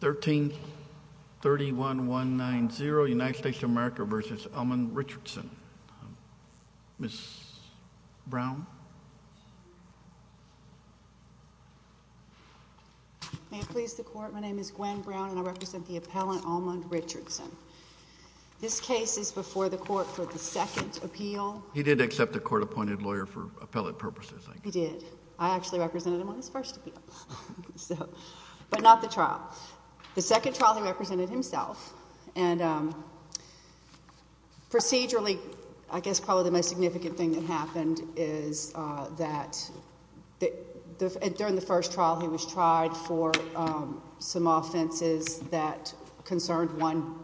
1331190 United States of America v. Almond Richardson Ms. Brown May it please the Court, my name is Gwen Brown and I represent the appellant Almond Richardson. This case is before the Court for the second appeal. He did accept a court-appointed lawyer for appellate purposes, I think. He did. I actually represented him on his first appeal, but not the trial. The second trial he represented himself and procedurally, I guess probably the most significant thing that happened is that during the first trial he was tried for some offenses that concerned one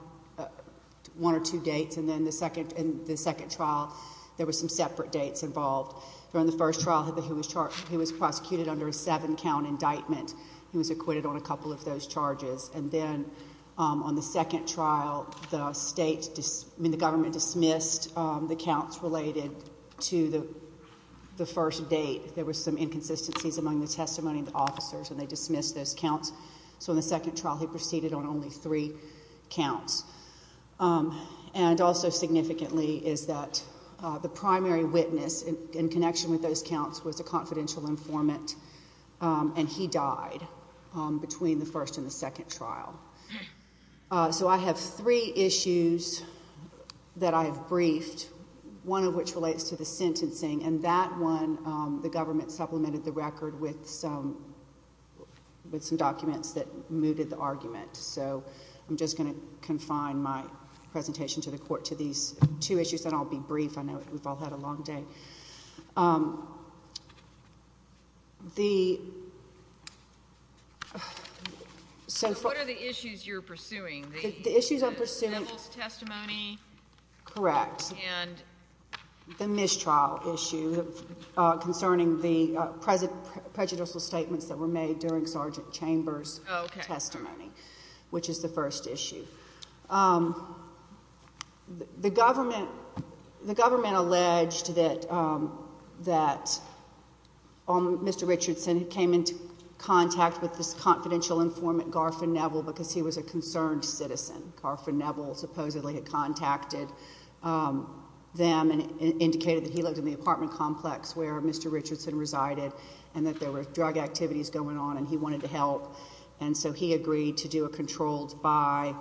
or two dates, and then in the second trial there were some separate dates involved. During the first trial he was prosecuted under a seven-count indictment, he was acquitted on a couple of those charges, and then on the second trial the government dismissed the counts related to the first date. There were some inconsistencies among the testimony of the officers and they dismissed those counts. So in the second trial he proceeded on only three counts. And also significantly is that the primary witness in connection with those counts was a confidential informant, and he died between the first and the second trial. So I have three issues that I've briefed, one of which relates to the sentencing, and that one the government supplemented the record with some documents that mooted the argument. So I'm just going to confine my presentation to the Court to these two issues, then I'll be brief. I know we've all had a long day. So what are the issues you're pursuing? The issues I'm pursuing... The civil testimony? Correct. And... The mistrial issue concerning the prejudicial statements that were made during Sergeant Chambers' testimony, which is the first issue. The government alleged that Mr. Richardson had came into contact with this confidential informant, Garfin Neville, because he was a concerned citizen. Garfin Neville supposedly had contacted them and indicated that he lived in the apartment complex where Mr. Richardson resided and that there were drug activities going on and he wanted to help. And so he agreed to do a controlled by,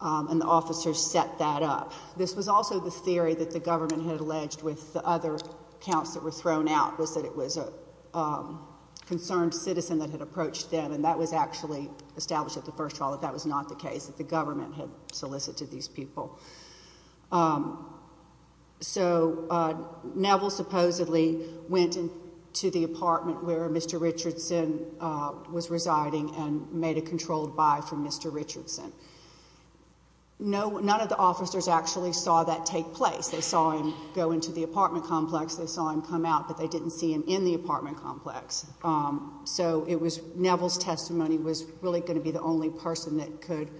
and the officers set that up. This was also the theory that the government had alleged with the other counts that were thrown out was that it was a concerned citizen that had approached them, and that was actually established at the first trial that that was not the case, that the government had solicited these people. So, Neville supposedly went into the apartment where Mr. Richardson was residing and made a controlled by for Mr. Richardson. None of the officers actually saw that take place. They saw him go into the apartment complex, they saw him come out, but they didn't see him in the apartment complex. So Neville's testimony was really going to be the only person that could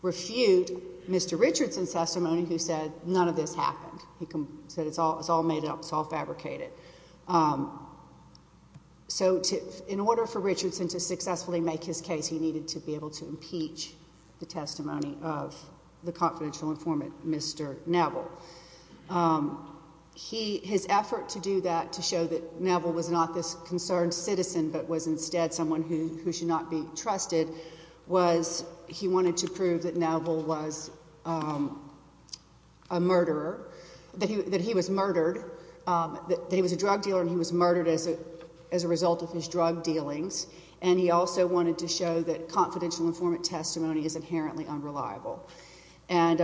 refute Mr. Richardson's testimony who said, none of this happened, he said it's all made up, it's all fabricated. So in order for Richardson to successfully make his case, he needed to be able to impeach the testimony of the confidential informant, Mr. Neville. His effort to do that, to show that Neville was not this concerned citizen but was instead someone who should not be trusted, was he wanted to prove that Neville was a murderer, that he was murdered, that he was a drug dealer and he was murdered as a result of his drug dealings. And he also wanted to show that confidential informant testimony is inherently unreliable. And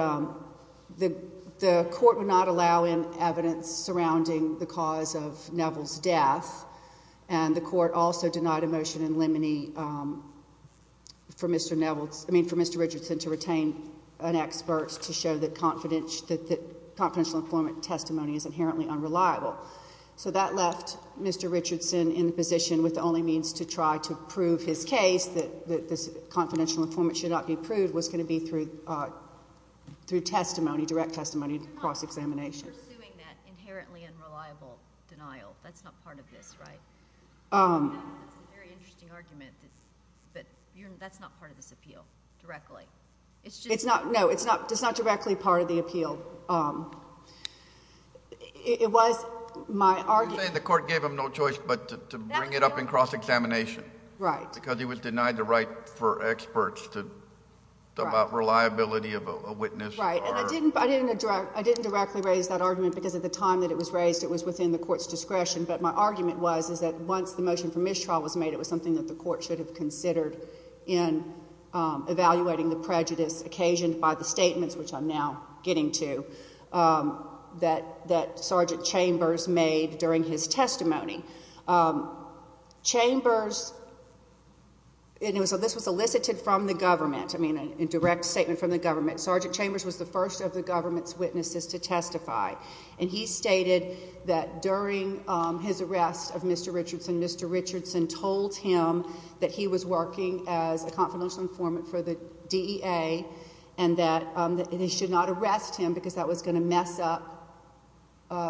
the court would not allow in evidence surrounding the cause of Neville's death, and the court also denied a motion in limine for Mr. Richardson to retain an expert to show that confidential informant testimony is inherently unreliable. So that left Mr. Richardson in a position with only means to try to prove his case, that this confidential informant should not be proved, was going to be through testimony, direct testimony, cross-examination. But you're not pursuing that inherently unreliable denial, that's not part of this, right? That's a very interesting argument, but that's not part of this appeal, directly. It's just... It's not, no, it's not, it's not directly part of the appeal. It was my argument... You're saying the court gave him no choice but to bring it up in cross-examination. Right. Because he was denied the right for experts to... Right.... about reliability of a witness or... Right. And I didn't, I didn't address, I didn't directly raise that argument because at the time that it was raised, it was within the court's discretion, but my argument was, is that once the motion for mistrial was made, it was something that the court should have considered in evaluating the prejudice occasioned by the statements, which I'm now getting to, that, that Sergeant Chambers made during his testimony. Chambers... and it was, this was elicited from the government, I mean, a direct statement from the government. Sergeant Chambers was the first of the government's witnesses to testify. And he stated that during his arrest of Mr. Richardson, Mr. Richardson told him that he was working as a confidential informant for the DEA and that they should not arrest him because that was going to mess up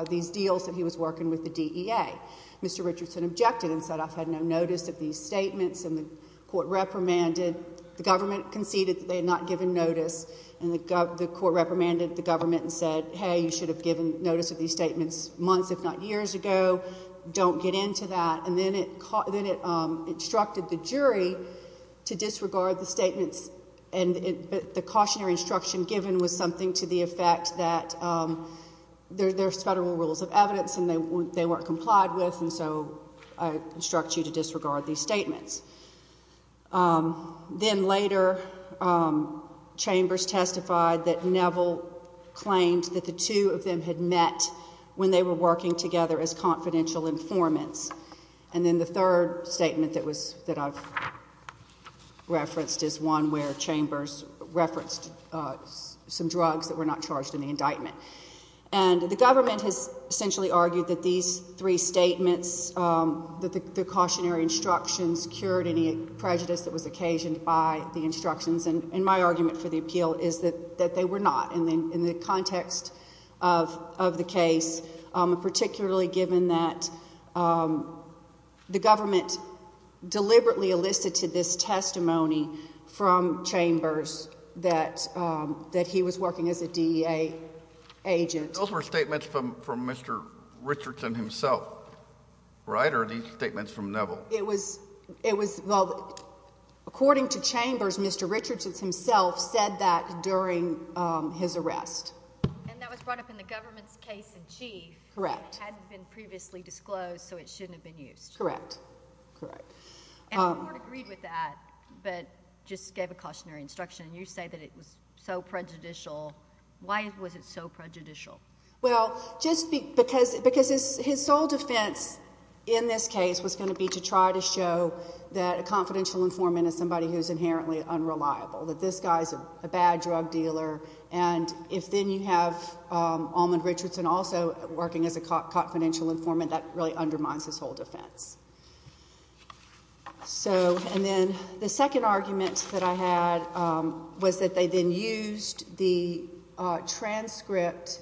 these deals that he was working with the DEA. Mr. Richardson objected and said, I've had no notice of these statements, and the court reprimanded, the government conceded that they had not given notice, and the court reprimanded the government and said, hey, you should have given notice of these statements months, if not years ago. Don't get into that. And then it, then it instructed the jury to disregard the statements, and the cautionary instruction given was something to the effect that there's federal rules of evidence and they weren't complied with, and so I instruct you to disregard these statements. Then later, Chambers testified that Neville claimed that the two of them had met when they were working together as confidential informants. And then the third statement that was, that I've referenced is one where Chambers referenced some drugs that were not charged in the indictment. And the government has essentially argued that these three statements, that the cautionary instructions cured any prejudice that was occasioned by the instructions, and my argument for the appeal is that they were not in the context of the case, particularly given that the government deliberately elicited this testimony from Chambers that he was working as a DEA agent. Those were statements from, from Mr. Richardson himself, right, or are these statements from Neville? It was, it was, well, according to Chambers, Mr. Richardson himself said that during, um, his arrest. And that was brought up in the government's case-in-chief. Correct. It hadn't been previously disclosed, so it shouldn't have been used. Correct. Correct. And the court agreed with that, but just gave a cautionary instruction, and you say that it was so prejudicial. Why was it so prejudicial? Well, just because, because his sole defense in this case was going to be to try to show that a confidential informant is somebody who's inherently unreliable, that this guy's a bad drug dealer, and if then you have Almond Richardson also working as a confidential informant, that really undermines his whole defense. So, and then the second argument that I had, um, was that they then used the, uh, transcript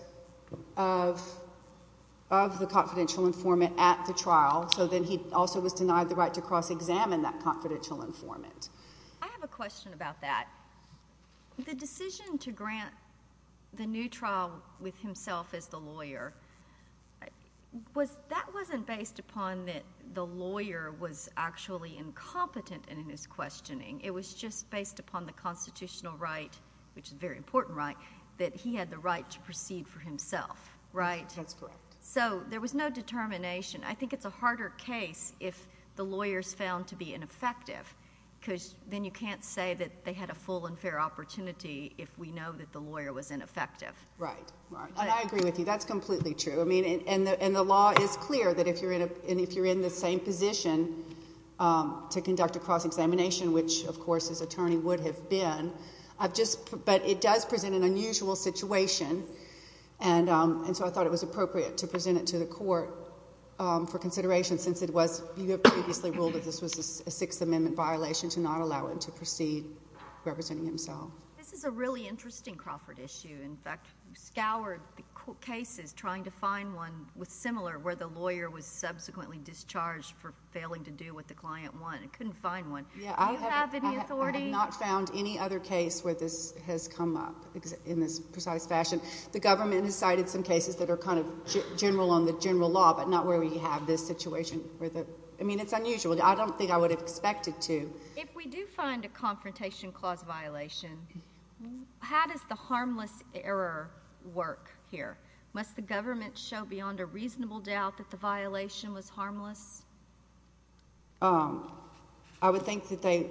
of, of the confidential informant at the trial, so then he also was denied the right to cross-examine that confidential informant. I have a question about that. The decision to grant the new trial with himself as the lawyer, was, that wasn't based upon that the lawyer was actually incompetent in his questioning. It was just based upon the constitutional right, which is a very important right, that he had the right to proceed for himself. Right? That's correct. So, there was no determination. I think it's a harder case if the lawyer's found to be ineffective, because then you can't say that they had a full and fair opportunity if we know that the lawyer was ineffective. Right. Right. And I agree with you. That's completely true. I mean, and the, and the law is clear that if you're in a, and if you're in the same position, um, to conduct a cross-examination, which of course his attorney would have been, I've just, but it does present an unusual situation, and, um, and so I thought it was appropriate to present it to the court, um, for consideration since it was, you have previously ruled that this was a Sixth Amendment violation to not allow him to proceed representing himself. This is a really interesting Crawford issue. In fact, we scoured the court cases trying to find one with similar, where the lawyer was subsequently discharged for failing to do what the client wanted. Couldn't find one. Yeah. Do you have any authority? I have not found any other case where this has come up in this precise fashion. The government has cited some cases that are kind of general on the general law, but not where we have this situation where the, I mean, it's unusual. I don't think I would have expected to. If we do find a confrontation clause violation, how does the harmless error work here? Must the government show beyond a reasonable doubt that the violation was harmless? Um, I would think that they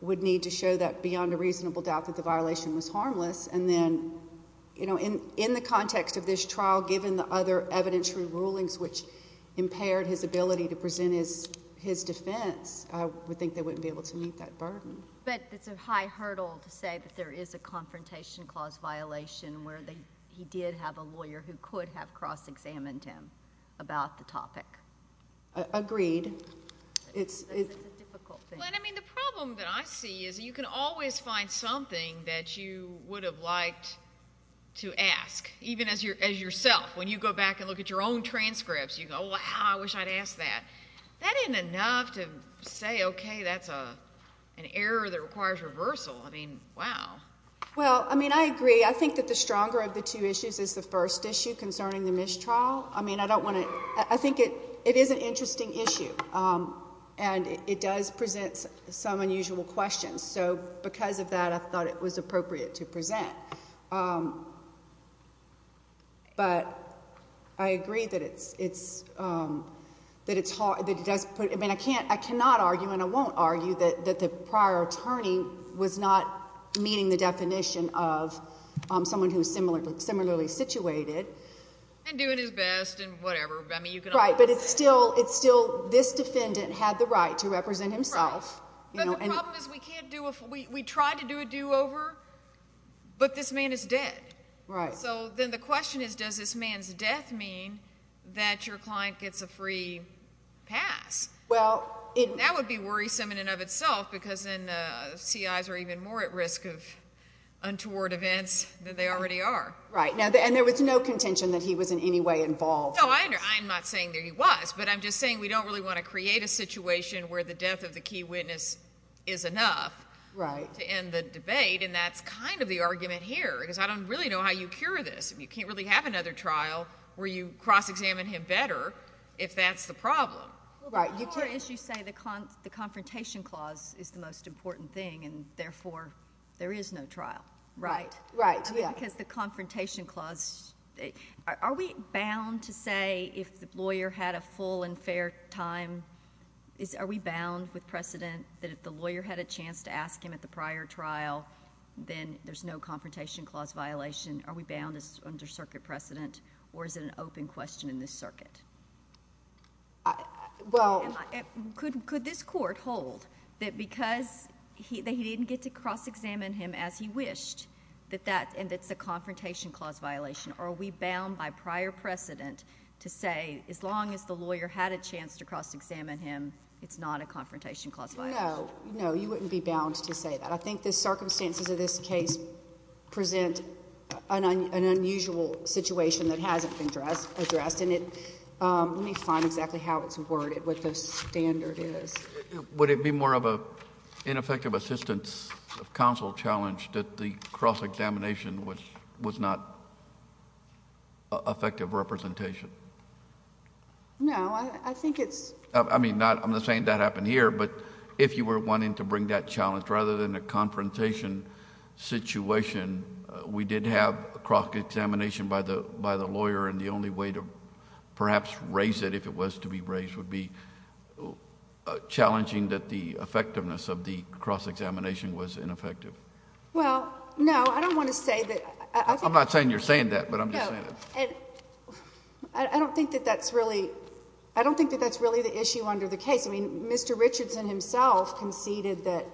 would need to show that beyond a reasonable doubt that the violation was harmless, and then, you know, in, in the context of this trial, given the other evidentiary rulings which impaired his ability to present his, his defense, I would think they wouldn't be able to meet that burden. But it's a high hurdle to say that there is a confrontation clause violation where they, he did have a lawyer who could have cross-examined him about the topic. Agreed. It's, it's a difficult thing. Well, and I mean, the problem that I see is you can always find something that you would have liked to ask, even as your, as yourself. When you go back and look at your own transcripts, you go, wow, I wish I'd asked that. That isn't enough to say, okay, that's a, an error that requires reversal. I mean, wow. Well, I mean, I agree. I think that the stronger of the two issues is the first issue concerning the mistrial. I mean, I don't want to, I think it, it is an interesting issue. Um, and it, it does present some unusual questions. Um, but I agree that it's, it's, um, that it's hard, that it does put, I mean, I can't, I cannot argue and I won't argue that, that the prior attorney was not meeting the definition of, um, someone who's similar, similarly situated. And doing his best and whatever. Right. But it's still, it's still, this defendant had the right to represent himself. But the problem is we can't do a, we, we tried to do a do over, but this man is dead. Right. So then the question is, does this man's death mean that your client gets a free pass? Well, it. That would be worrisome in and of itself because then, uh, CIs are even more at risk of untoward events than they already are. Right. Now, and there was no contention that he was in any way involved. No, I, I'm not saying that he was, but I'm just saying we don't really want to create a situation where the death of the key witness is enough. Right. To end the debate and that's kind of the argument here. Because I don't really know how you cure this. I mean, you can't really have another trial where you cross examine him better if that's the problem. Right. You can't. Or as you say, the con, the confrontation clause is the most important thing and therefore there is no trial. Right. Right. Yeah. I mean, because the confrontation clause, are, are we bound to say if the lawyer had a full and fair time? Is, are we bound with precedent that if the lawyer had a chance to ask him at the prior trial, then there's no confrontation clause violation? Are we bound as under circuit precedent or is it an open question in this circuit? Uh, well. Could, could this court hold that because he, that he didn't get to cross examine him as he wished, that that, and it's a confrontation clause violation? Or are we bound by prior precedent to say as long as the lawyer had a chance to cross examine him, it's not a confrontation clause violation? No. No. You wouldn't be bound to say that. I think the circumstances of this case present an, an unusual situation that hasn't been addressed, addressed. And it, um, let me find exactly how it's worded, what the standard is. Would it be more of a ineffective assistance of counsel challenge that the cross examination was, was not effective representation? No. I, I think it's... I, I mean not, I'm not saying that happened here, but if you were wanting to bring that challenge rather than a confrontation situation, we did have a cross examination by the, by the lawyer and the only way to perhaps raise it if it was to be raised would be challenging that the effectiveness of the cross examination was ineffective. Well, no. I don't want to say that. I think... I'm not saying you're saying that, but I'm just saying that. No. And I, I don't think that that's really, I don't think that that's really the issue under the case. I mean, Mr. Richardson himself conceded that,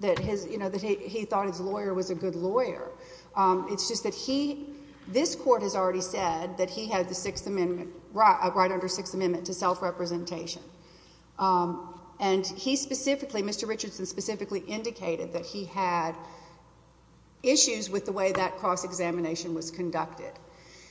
that his, you know, that he, he thought his lawyer was a good lawyer. Um, it's just that he, this court has already said that he had the Sixth Amendment, right, right under Sixth Amendment to self-representation. Um, and he specifically, Mr. Richardson specifically indicated that he had issues with the way that cross examination was conducted.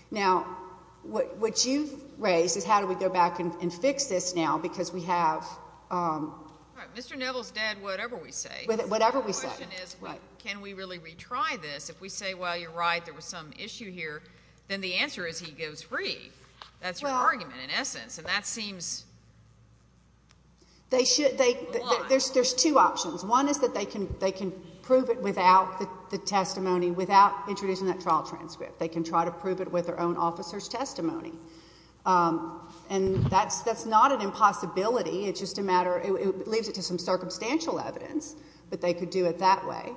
Now, what, what you've raised is how do we go back and, and fix this now because we have, um... All right. Mr. Neville's dead, whatever we say. Whatever we say. The question is... Right. Can we really retry this? If we say, well, you're right, there was some issue here, then the answer is he goes free. That's your argument in essence. And that seems... They should, they, there's, there's two options. One is that they can, they can prove it without the testimony, without introducing that trial transcript. They can try to prove it with their own officer's testimony. Um, and that's, that's not an impossibility. It's just a matter, it leaves it to some circumstantial evidence, but they could do it that way.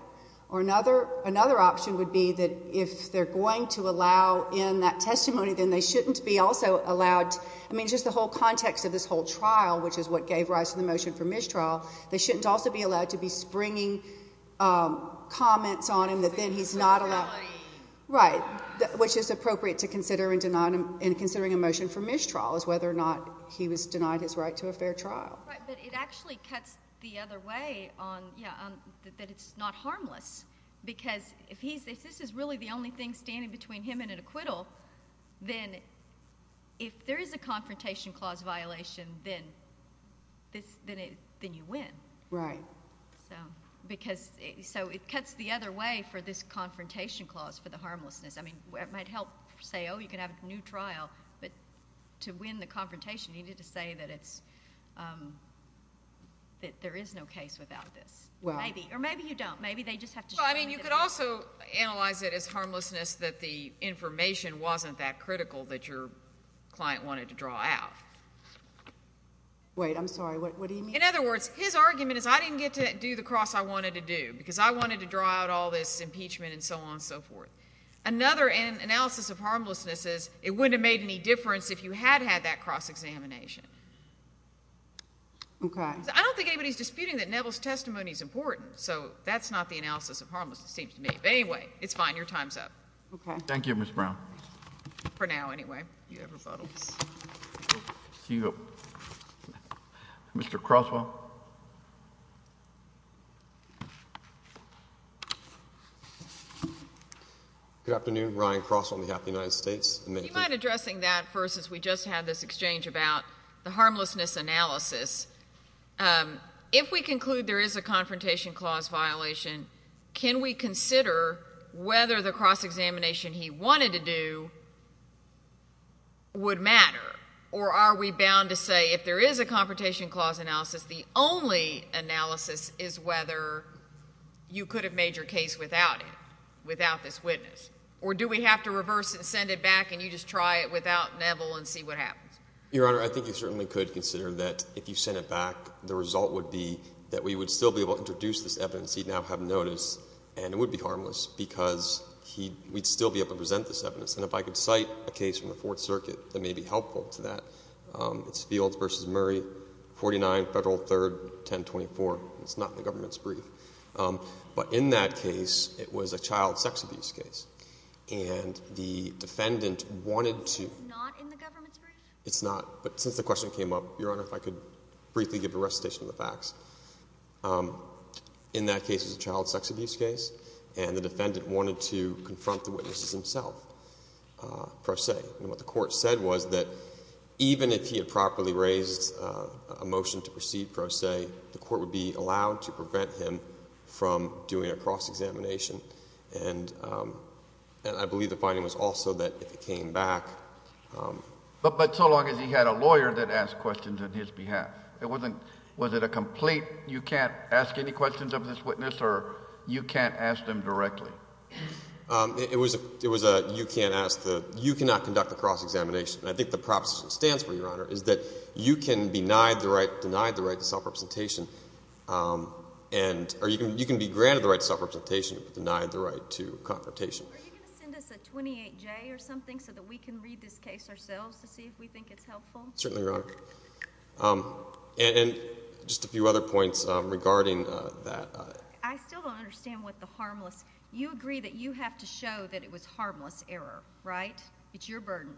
Or another, another option would be that if they're going to allow in that testimony, then they shouldn't be also allowed... I mean, just the whole context of this whole trial, which is what gave rise to the motion for mistrial, they shouldn't also be allowed to be springing, um, comments on him that then he's not allowed... Inequality. Right. Which is appropriate to consider in denying him, in considering a motion for mistrial is whether or not he was denied his right to a fair trial. Right. But it actually cuts the other way on, yeah, on, that it's not harmless. Because if he's, if this is really the only thing standing between him and an acquittal, then if there is a confrontation clause violation, then this, then it, then you win. Right. So, because, so it cuts the other way for this confrontation clause for the harmlessness. I mean, it might help say, oh, you can have a new trial, but to win the confrontation, you need to say that it's, um, that there is no case without this. Well... Well, I mean, you could also analyze it as harmlessness that the information wasn't that critical that your client wanted to draw out. Wait, I'm sorry. What do you mean? In other words, his argument is I didn't get to do the cross I wanted to do, because I wanted to draw out all this impeachment and so on and so forth. Another analysis of harmlessness is it wouldn't have made any difference if you had had that cross-examination. Okay. I don't think anybody's disputing that Neville's testimony is important. So, that's not the analysis of harmlessness, it seems to me. But anyway, it's fine. Your time's up. Okay. Thank you, Ms. Brown. For now, anyway. You have rebuttals. See you. Mr. Croswell. Good afternoon. Ryan Croswell on behalf of the United States. You mind addressing that first, as we just had this exchange about the harmlessness analysis. If we conclude there is a confrontation clause violation, can we consider whether the cross-examination he wanted to do would matter? Or are we bound to say if there is a confrontation clause analysis, the only analysis is whether you could have made your case without it, without this witness? Or do we have to reverse it and send it back, and you just try it without Neville and see what happens? Your Honor, I think you certainly could consider that if you sent it back, the result would be that we would still be able to introduce this evidence. He'd now have notice, and it would be harmless because we'd still be able to present this evidence. And if I could cite a case from the Fourth Circuit that may be helpful to that, it's Fields v. Murray, 49 Federal 3rd, 1024. It's not in the government's brief. But in that case, it was a child sex abuse case. And the defendant wanted to… It's not in the government's brief? It's not. But since the question came up, Your Honor, if I could briefly give a recitation of the facts. In that case, it was a child sex abuse case, and the defendant wanted to confront the witnesses himself pro se. And what the Court said was that even if he had properly raised a motion to proceed pro se, the Court would be allowed to prevent him from doing a cross-examination. And I believe the finding was also that if it came back… But so long as he had a lawyer that asked questions on his behalf. It wasn't… Was it a complete, you can't ask any questions of this witness, or you can't ask them directly? It was a you can't ask the… You cannot conduct a cross-examination. And I think the proposition that stands for you, Your Honor, is that you can be denied the right to self-representation, and… Or you can be granted the right to self-representation, but denied the right to confrontation. Are you going to send us a 28-J or something so that we can read this case ourselves to see if we think it's helpful? Certainly, Your Honor. And just a few other points regarding that. I still don't understand what the harmless… You agree that you have to show that it was harmless error, right? It's your burden.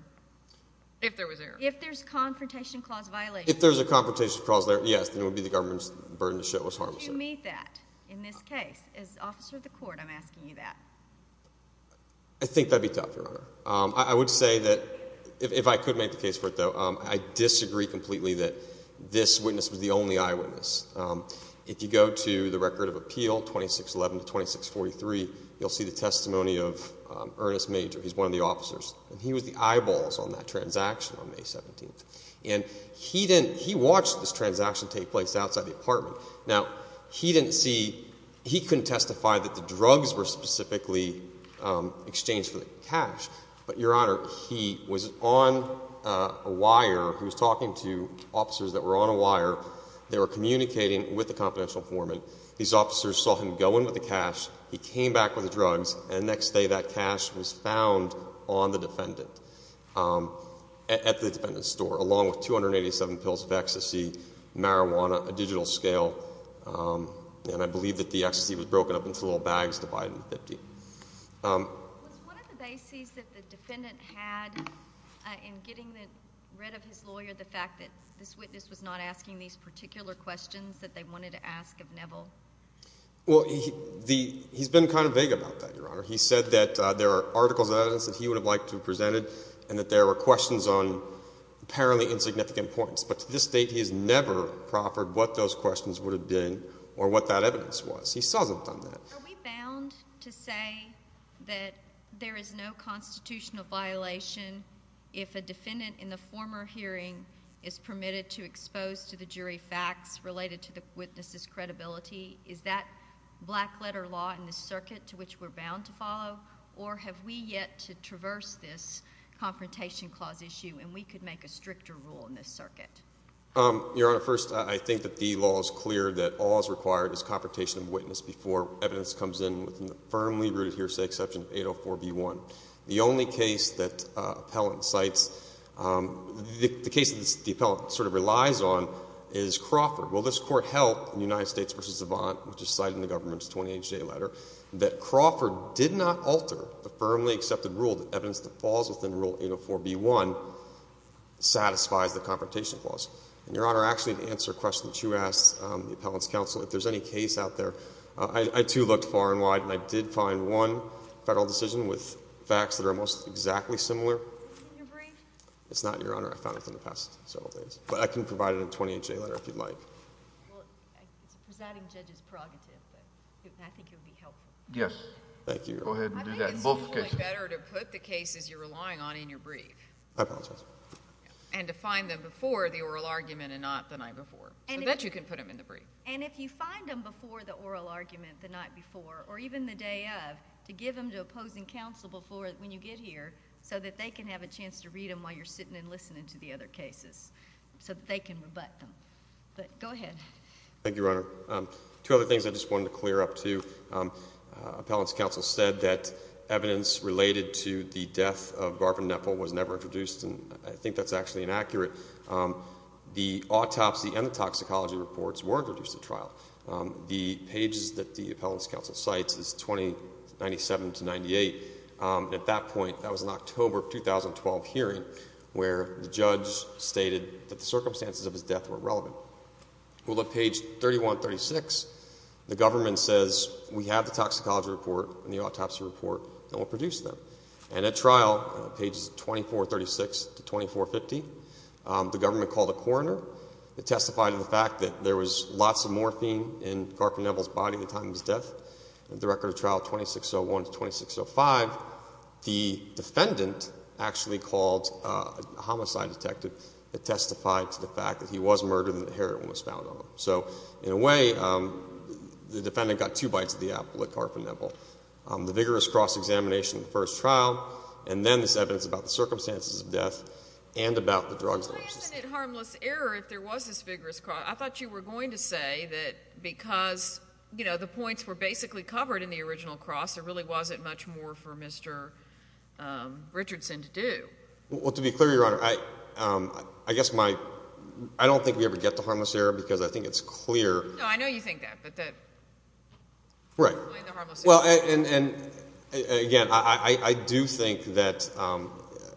If there was error. If there's confrontation clause violation. If there's a confrontation clause there, yes, then it would be the government's burden to show it was harmless error. Do you meet that in this case? As officer of the court, I'm asking you that. I think that'd be tough, Your Honor. I would say that if I could make the case for it, though, I disagree completely that this witness was the only eyewitness. If you go to the record of appeal 2611 to 2643, you'll see the testimony of Ernest Major. He's one of the officers. And he was the eyeballs on that transaction on May 17th. And he watched this transaction take place outside the apartment. Now, he didn't see… He couldn't testify that the drugs were specifically exchanged for the cash. But, Your Honor, he was on a wire. He was talking to officers that were on a wire. They were communicating with the confidential informant. These officers saw him go in with the cash. He came back with the drugs. And the next day, that cash was found on the defendant at the defendant's store, along with 287 pills of ecstasy, marijuana, a digital scale. And I believe that the ecstasy was broken up into little bags divided in 50. Was one of the bases that the defendant had in getting rid of his lawyer the fact that this witness was not asking these particular questions that they wanted to ask of Neville? Well, he's been kind of vague about that, Your Honor. He said that there are articles of evidence that he would have liked to have presented and that there were questions on apparently insignificant points. But to this date, he has never proffered what those questions would have been or what that evidence was. He hasn't done that. Are we bound to say that there is no constitutional violation if a defendant in the former hearing is permitted to expose to the jury facts related to the witness's credibility? Is that black-letter law in the circuit to which we're bound to follow? Or have we yet to traverse this Confrontation Clause issue and we could make a stricter rule in this circuit? Your Honor, first, I think that the law is clear that all that's required is confrontation of witness before evidence comes in within the firmly rooted hearsay exception of 804b1. The only case that the appellant sort of relies on is Crawford. Well, this Court held in United States v. Avant, which is cited in the government's 20HJ letter, that Crawford did not alter the firmly accepted rule that evidence that falls within Rule 804b1 satisfies the Confrontation Clause. Your Honor, actually, to answer a question that you asked the appellant's counsel, if there's any case out there, I, too, looked far and wide and I did find one federal decision with facts that are almost exactly similar. In your brief? It's not, Your Honor. I found it in the past several days. But I can provide it in the 20HJ letter if you'd like. Well, presiding judge is prerogative, but I think it would be helpful. Yes. Thank you. Go ahead and do that in both cases. I think it's only better to put the cases you're relying on in your brief. I apologize. And to find them before the oral argument and not the night before. So that you can put them in the brief. And if you find them before the oral argument the night before, or even the day of, to give them to opposing counsel before, when you get here, so that they can have a chance to read them while you're sitting and listening to the other cases, so that they can rebut them. But go ahead. Thank you, Your Honor. Two other things I just wanted to clear up, too. Appellant's counsel said that evidence related to the death of Garvin Nepple was never introduced, and I think that's actually inaccurate. The autopsy and the toxicology reports were introduced at trial. The pages that the appellant's counsel cites is 2097 to 98. At that point, that was an October 2012 hearing, where the judge stated that the circumstances of his death were relevant. Well, at page 3136, the government says, we have the toxicology report and the autopsy report, and we'll produce them. And at trial, pages 2436 to 2450, the government called a coroner that testified to the fact that there was lots of morphine in Garvin Nepple's body at the time of his death. At the record of trial 2601 to 2605, the defendant actually called a homicide detective that testified to the fact that he was murdered and that heroin was found on him. So in a way, the defendant got two bites of the apple at Garvin Nepple. The vigorous cross-examination in the first trial, and then this evidence about the circumstances of death and about the drugs that were used. Why isn't it harmless error if there was this vigorous cross? I thought you were going to say that because, you know, the points were basically covered in the original cross, there really wasn't much more for Mr. Richardson to do. Well, to be clear, Your Honor, I don't think we ever get to harmless error because I think it's clear. No, I know you think that. Right. Well, and again, I do think that, I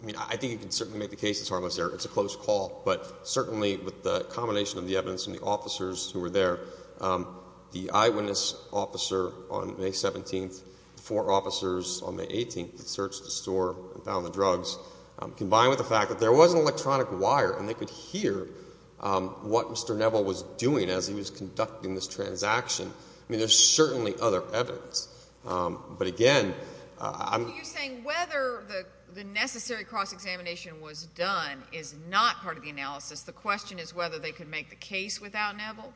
mean, I think you can certainly make the case it's harmless error. It's a close call. But certainly with the combination of the evidence and the officers who were there, the eyewitness officer on May 17th, the four officers on May 18th that searched the store and found the drugs, combined with the fact that there was an electronic wire and they could hear what Mr. Nepple was doing as he was conducting this transaction, I mean, there's certainly other evidence. But again, I'm— Are you saying whether the necessary cross-examination was done is not part of the analysis? The question is whether they could make the case without Nepple?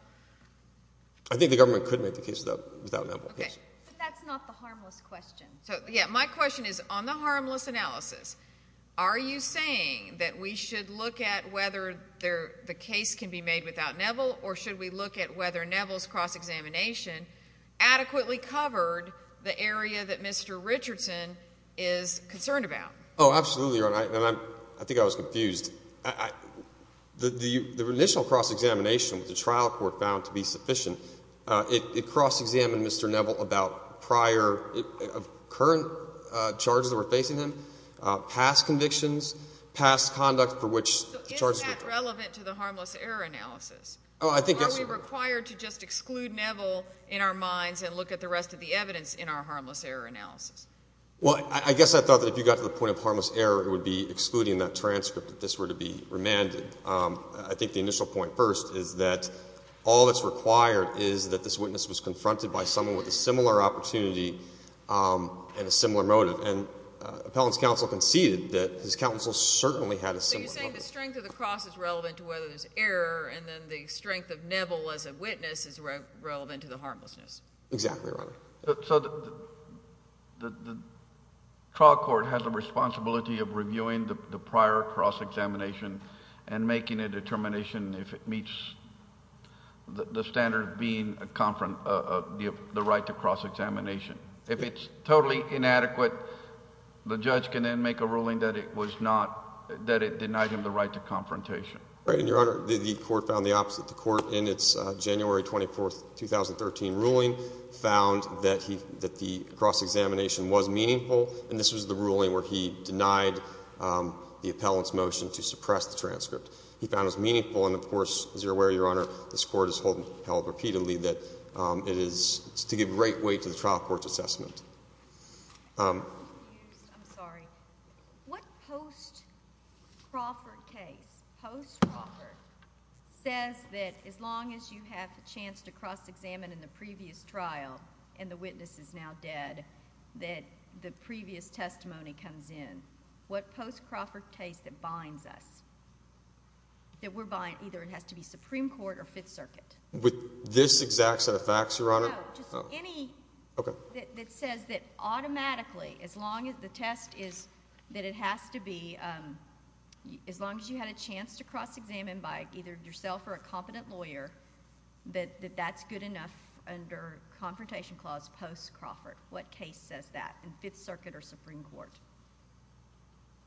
I think the government could make the case without Nepple, yes. Okay. But that's not the harmless question. So, yeah, my question is on the harmless analysis, are you saying that we should look at whether the case can be made without Nepple or should we look at whether Nepple's cross-examination adequately covered the area that Mr. Richardson is concerned about? Oh, absolutely, Your Honor, and I think I was confused. The initial cross-examination that the trial court found to be sufficient, it cross-examined Mr. Nepple about prior current charges that were facing him, past convictions, past conduct for which the charges were— So is that relevant to the harmless error analysis? Oh, I think that's— Or are we required to just exclude Nepple in our minds and look at the rest of the evidence in our harmless error analysis? Well, I guess I thought that if you got to the point of harmless error, it would be excluding that transcript if this were to be remanded. I think the initial point first is that all that's required is that this witness was confronted by someone with a similar opportunity and a similar motive. And Appellant's counsel conceded that his counsel certainly had a similar motive. So you're saying the strength of the cross is relevant to whether there's error and then the strength of Nepple as a witness is relevant to the harmlessness. Exactly, Your Honor. So the trial court has a responsibility of reviewing the prior cross-examination and making a determination if it meets the standard of being a—the right to cross-examination. If it's totally inadequate, the judge can then make a ruling that it was not— that it denied him the right to confrontation. Right, and Your Honor, the court found the opposite. The court in its January 24, 2013, ruling found that the cross-examination was meaningful, and this was the ruling where he denied the Appellant's motion to suppress the transcript. He found it was meaningful, and of course, as you're aware, Your Honor, this court has held repeatedly that it is to give great weight to the trial court's assessment. I'm confused. I'm sorry. What post-Crawford case, post-Crawford, says that as long as you have the chance to cross-examine in the previous trial and the witness is now dead, that the previous testimony comes in? What post-Crawford case that binds us, that we're—either it has to be Supreme Court or Fifth Circuit? With this exact set of facts, Your Honor? No, just any that says that automatically, as long as the test is that it has to be— as long as you had a chance to cross-examine by either yourself or a competent lawyer, that that's good enough under Confrontation Clause post-Crawford. What case says that in Fifth Circuit or Supreme Court?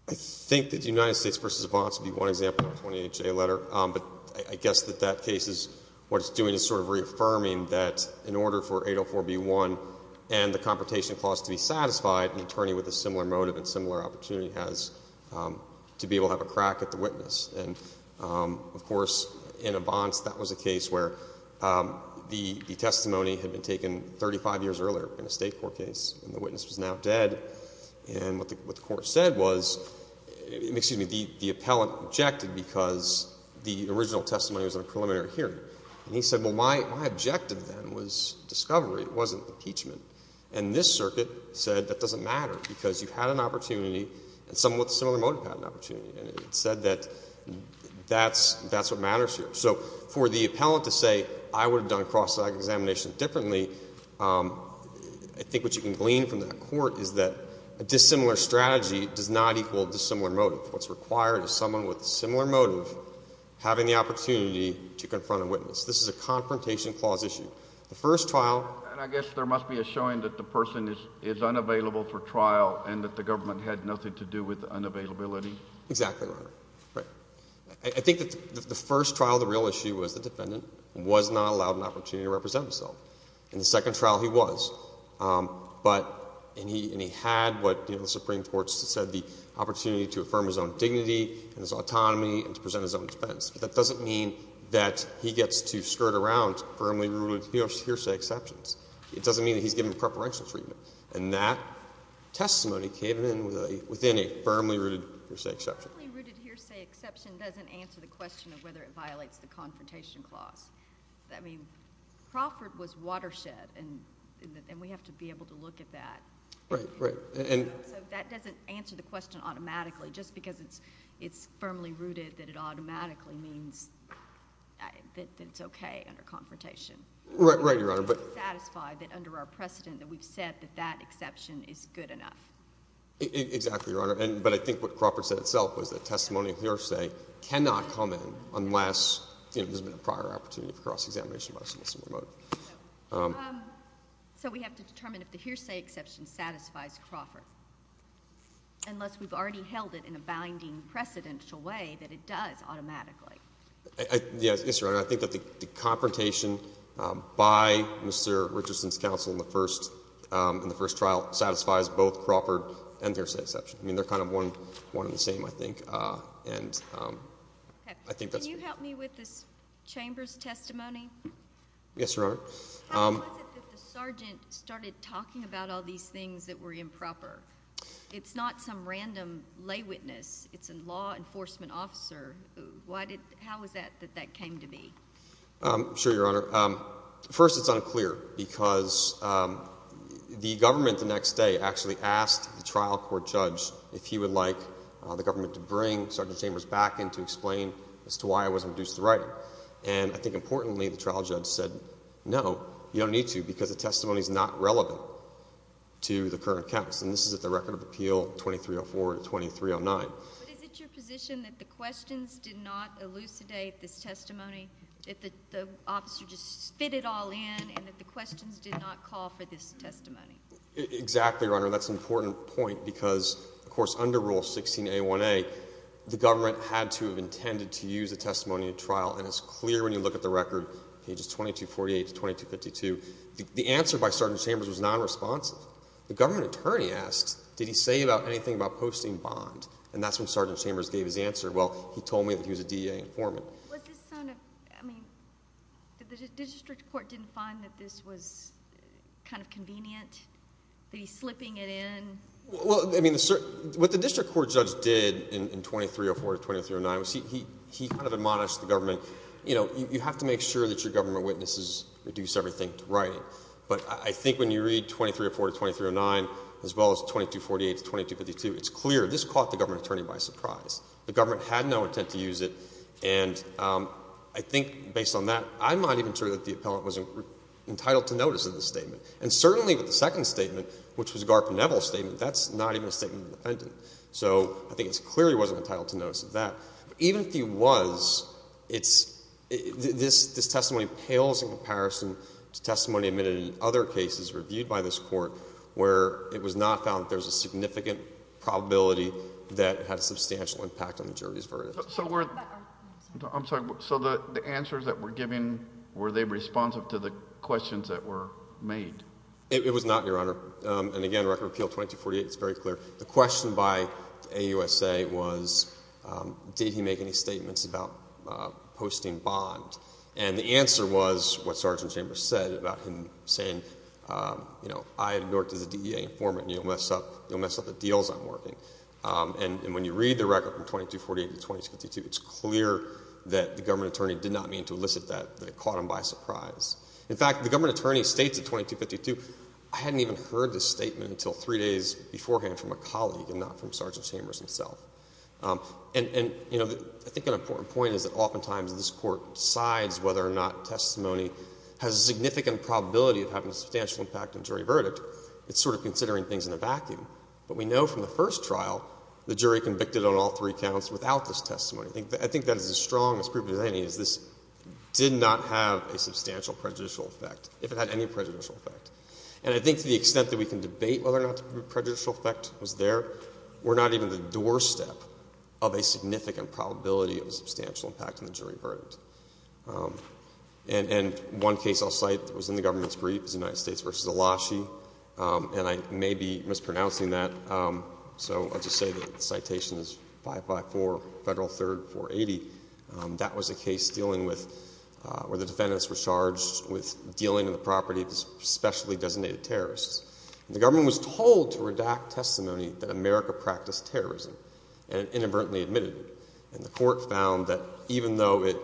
I think that the United States v. Vance would be one example of a 28-J letter, but I guess that that case is—what it's doing is sort of reaffirming that in order for 804b-1 and the Confrontation Clause to be satisfied, an attorney with a similar motive and similar opportunity has to be able to have a crack at the witness. And, of course, in a Vance, that was a case where the testimony had been taken 35 years earlier in a State court case, and the witness was now dead. And what the Court said was—excuse me, the appellant objected because the original testimony was in a preliminary hearing. And he said, well, my objective then was discovery. It wasn't impeachment. And this Circuit said that doesn't matter because you had an opportunity, and someone with a similar motive had an opportunity. And it said that that's what matters here. So for the appellant to say I would have done cross-examination differently, I think what you can glean from the Court is that a dissimilar strategy does not equal a dissimilar motive. What's required is someone with a similar motive having the opportunity to confront a witness. This is a Confrontation Clause issue. The first trial— And I guess there must be a showing that the person is unavailable for trial and that the government had nothing to do with unavailability. Exactly, Your Honor. Right. I think that the first trial, the real issue was the defendant was not allowed an opportunity to represent himself. In the second trial, he was. But—and he had what the Supreme Court said, the opportunity to affirm his own dignity and his autonomy and to present his own defense. But that doesn't mean that he gets to skirt around firmly-rooted hearsay exceptions. It doesn't mean that he's given preferential treatment. And that testimony came in within a firmly-rooted hearsay exception. A firmly-rooted hearsay exception doesn't answer the question of whether it violates the Confrontation Clause. I mean, Crawford was watershed, and we have to be able to look at that. Right, right. So that doesn't answer the question automatically. Just because it's firmly-rooted, that it automatically means that it's okay under Confrontation. Right, right, Your Honor. We're not satisfied that under our precedent that we've said that that exception is good enough. Exactly, Your Honor. But I think what Crawford said itself was that testimonial hearsay cannot come in unless, you know, there's been a prior opportunity for cross-examination by a submissive motive. So we have to determine if the hearsay exception satisfies Crawford, unless we've already held it in a binding, precedential way that it does automatically. Yes, Your Honor. I think that the confrontation by Mr. Richardson's counsel in the first trial satisfies both Crawford and the hearsay exception. I mean, they're kind of one and the same, I think. Can you help me with this Chamber's testimony? Yes, Your Honor. How was it that the sergeant started talking about all these things that were improper? It's not some random lay witness. It's a law enforcement officer. How was that that that came to be? Sure, Your Honor. First, it's unclear because the government the next day actually asked the trial court judge if he would like the government to bring Sergeant Chambers back in to explain as to why it wasn't reduced to writing. And I think importantly, the trial judge said no, you don't need to because the testimony is not relevant to the current case. And this is at the record of appeal 2304 to 2309. But is it your position that the questions did not elucidate this testimony, that the officer just spit it all in, and that the questions did not call for this testimony? Exactly, Your Honor. That's an important point because, of course, under Rule 16a1a, the government had to have intended to use the testimony in trial, and it's clear when you look at the record, pages 2248 to 2252, the answer by Sergeant Chambers was nonresponsive. The government attorney asked, did he say anything about posting bond? And that's when Sergeant Chambers gave his answer. Well, he told me that he was a DEA informant. I mean, the district court didn't find that this was kind of convenient, that he's slipping it in? Well, I mean, what the district court judge did in 2304 to 2309 was he kind of admonished the government, you know, you have to make sure that your government witnesses reduce everything to writing. But I think when you read 2304 to 2309, as well as 2248 to 2252, it's clear this caught the government attorney by surprise. The government had no intent to use it, and I think based on that, I'm not even sure that the appellant was entitled to notice of the statement. And certainly with the second statement, which was a Garp and Neville statement, that's not even a statement of the defendant. So I think it clearly wasn't entitled to notice of that. Even if he was, this testimony pales in comparison to testimony admitted in other cases reviewed by this court where it was not found that there was a significant probability that it had a substantial impact on the jury's verdict. So the answers that we're giving, were they responsive to the questions that were made? It was not, Your Honor. And again, Record of Appeal 2248, it's very clear. The question by AUSA was, did he make any statements about posting bond? And the answer was what Sergeant Chambers said about him saying, I have worked as a DEA informant and you'll mess up the deals I'm working. And when you read the record from 2248 to 2252, it's clear that the government attorney did not mean to elicit that, that it caught him by surprise. In fact, the government attorney states in 2252, I hadn't even heard this statement until three days beforehand from a colleague and not from Sergeant Chambers himself. And I think an important point is that oftentimes this court decides whether or not testimony has a significant probability of having a substantial impact on jury verdict. It's sort of considering things in a vacuum. But we know from the first trial, the jury convicted on all three counts without this testimony. I think that is as strong as provable as any is this did not have a substantial prejudicial effect, if it had any prejudicial effect. And I think to the extent that we can debate whether or not the prejudicial effect was there, we're not even the doorstep of a significant probability of a substantial impact on the jury verdict. And one case I'll cite that was in the government's brief is United States v. Elashi. And I may be mispronouncing that. So I'll just say the citation is 554 Federal 3rd 480. That was a case dealing with where the defendants were charged with dealing in the property of specially designated terrorists. The government was told to redact testimony that America practiced terrorism and inadvertently admitted it. And the court found that even though it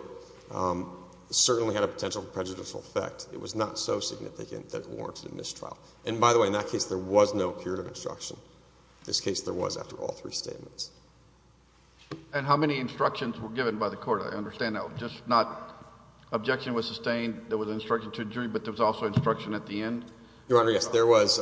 certainly had a potential prejudicial effect, it was not so significant that it warranted a mistrial. And by the way, in that case, there was no period of instruction. In this case, there was after all three statements. And how many instructions were given by the court? I understand that was just not objection was sustained. There was instruction to the jury, but there was also instruction at the end. Your Honor, yes, there was.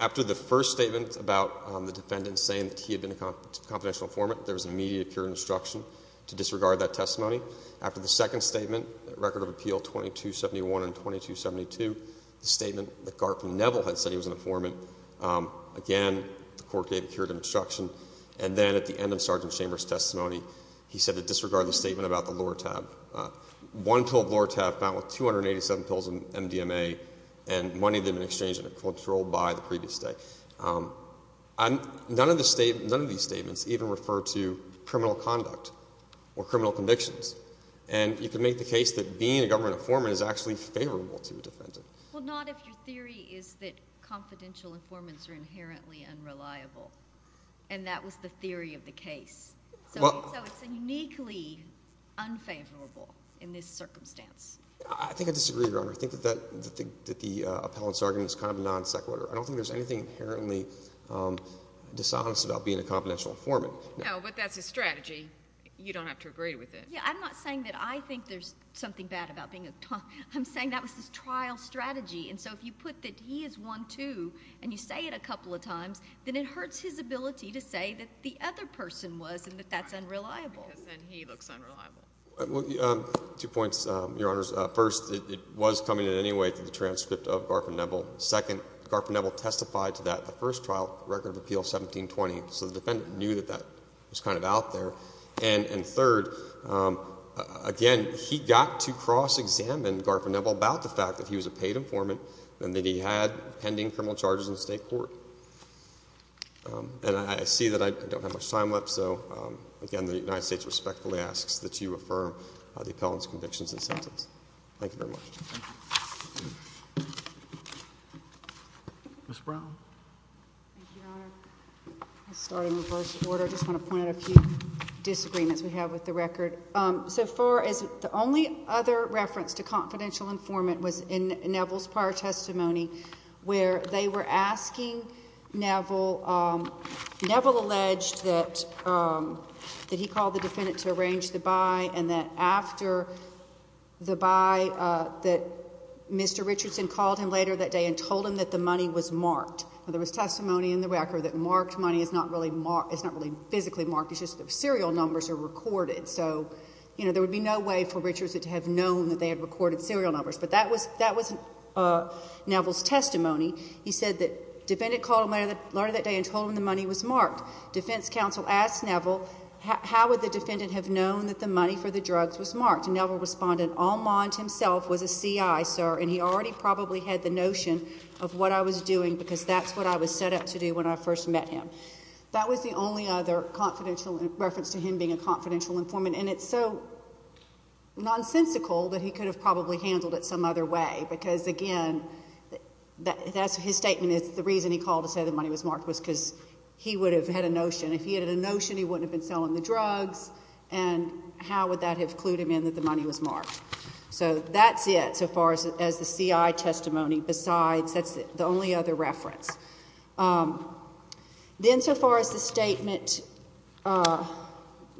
After the first statement about the defendant saying that he had been a confidential informant, there was immediate period of instruction to disregard that testimony. After the second statement, Record of Appeal 2271 and 2272, the statement that Garfield Neville had said he was an informant, again, the court gave a period of instruction. And then at the end of Sergeant Chambers' testimony, he said to disregard the statement about the Lortab. One pill of Lortab found with 287 pills of MDMA and money had been exchanged and controlled by the previous day. None of these statements even refer to criminal conduct or criminal convictions. And you can make the case that being a government informant is actually favorable to a defendant. Well, not if your theory is that confidential informants are inherently unreliable. And that was the theory of the case. So it's uniquely unfavorable in this circumstance. I think I disagree, Your Honor. I think that the appellant's argument is kind of non-sequitur. I don't think there's anything inherently dishonest about being a confidential informant. No, but that's his strategy. You don't have to agree with it. Yeah, I'm not saying that I think there's something bad about being a confidential informant. I'm saying that was his trial strategy. And so if you put that he is one, too, and you say it a couple of times, then it hurts his ability to say that the other person was and that that's unreliable. Because then he looks unreliable. Two points, Your Honors. First, it was coming in any way to the transcript of Garfield Neville. Second, Garfield Neville testified to that in the first trial, Record of Appeal 1720. So the defendant knew that that was kind of out there. And third, again, he got to cross-examine Garfield Neville about the fact that he was a paid informant and that he had pending criminal charges in the state court. And I see that I don't have much time left. So, again, the United States respectfully asks that you affirm the appellant's convictions and sentence. Thank you very much. Ms. Brown. Thank you, Your Honor. I'll start in reverse order. I just want to point out a few disagreements we have with the record. So far as the only other reference to confidential informant was in Neville's prior testimony, where they were asking Neville, Neville alleged that he called the defendant to arrange the buy and that after the buy that Mr. Richardson called him later that day and told him that the money was marked. There was testimony in the record that marked money is not really physically marked. It's just that serial numbers are recorded. So, you know, there would be no way for Richardson to have known that they had recorded serial numbers. But that was Neville's testimony. He said that defendant called him later that day and told him the money was marked. Defense counsel asked Neville, how would the defendant have known that the money for the drugs was marked? And Neville responded, Almond himself was a CI, sir, and he already probably had the notion of what I was doing because that's what I was set up to do when I first met him. That was the only other confidential reference to him being a confidential informant. And it's so nonsensical that he could have probably handled it some other way because, again, that's his statement is the reason he called to say the money was marked was because he would have had a notion. If he had a notion, he wouldn't have been selling the drugs. And how would that have clued him in that the money was marked? So that's it so far as the CI testimony, besides that's the only other reference. Then so far as the statement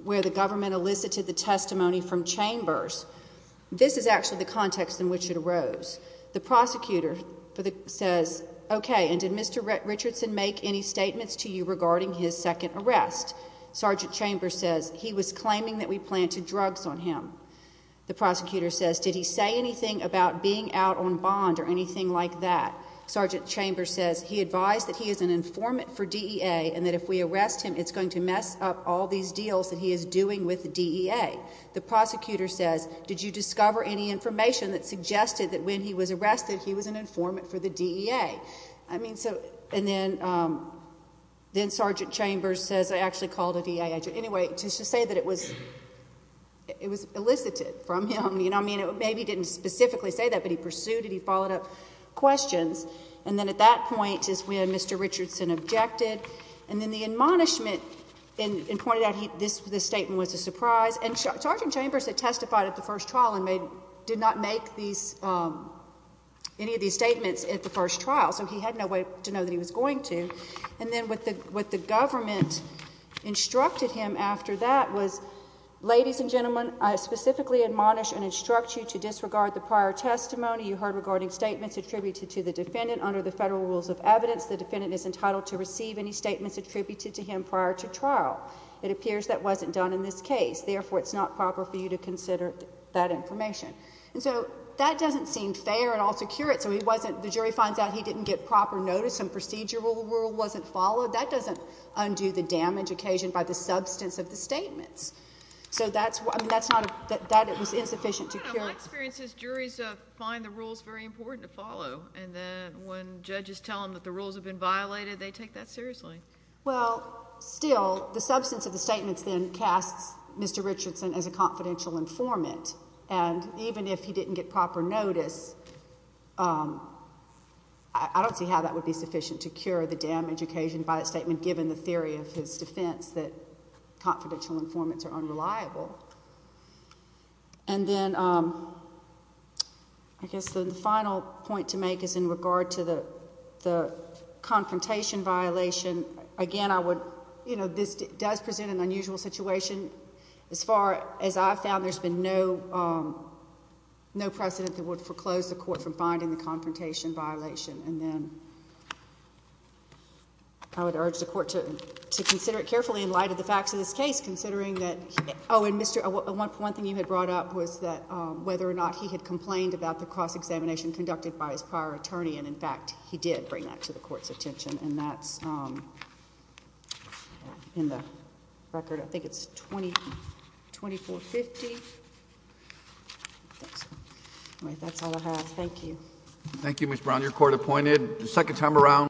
where the government elicited the testimony from Chambers, this is actually the context in which it arose. The prosecutor says, OK, and did Mr. Richardson make any statements to you regarding his second arrest? Sergeant Chambers says he was claiming that we planted drugs on him. The prosecutor says, did he say anything about being out on bond or anything like that? Sergeant Chambers says he advised that he is an informant for DEA and that if we arrest him, it's going to mess up all these deals that he is doing with the DEA. The prosecutor says, did you discover any information that suggested that when he was arrested he was an informant for the DEA? I mean, so and then Sergeant Chambers says I actually called a DEA agent. Anyway, to say that it was elicited from him, I mean, maybe he didn't specifically say that, but he pursued it. He followed up questions. And then at that point is when Mr. Richardson objected. And then the admonishment and pointed out this statement was a surprise. And Sergeant Chambers had testified at the first trial and did not make any of these statements at the first trial, so he had no way to know that he was going to. And then what the government instructed him after that was, ladies and gentlemen, I specifically admonish and instruct you to disregard the prior testimony. You heard regarding statements attributed to the defendant. Under the federal rules of evidence, the defendant is entitled to receive any statements attributed to him prior to trial. It appears that wasn't done in this case. Therefore, it's not proper for you to consider that information. And so that doesn't seem fair at all to curate. So he wasn't, the jury finds out he didn't get proper notice, some procedural rule wasn't followed. That doesn't undo the damage occasioned by the substance of the statements. So that's, I mean, that's not, that it was insufficient to curate. In my experience, juries find the rules very important to follow, and then when judges tell them that the rules have been violated, they take that seriously. Well, still, the substance of the statements then casts Mr. Richardson as a confidential informant, and even if he didn't get proper notice, I don't see how that would be sufficient to cure the damage occasioned by the statement, given the theory of his defense that confidential informants are unreliable. And then I guess the final point to make is in regard to the confrontation violation. Again, I would, you know, this does present an unusual situation. As far as I've found, there's been no precedent that would foreclose the court from finding the confrontation violation. And then I would urge the court to consider it carefully in light of the facts of this case, considering that, oh, and Mr., one thing you had brought up was that whether or not he had complained about the cross-examination conducted by his prior attorney, and, in fact, he did bring that to the court's attention, and that's in the record, I think it's 2450. I think so. All right, that's all I have. Thank you. Thank you, Ms. Brown. Your court appointed the second time around.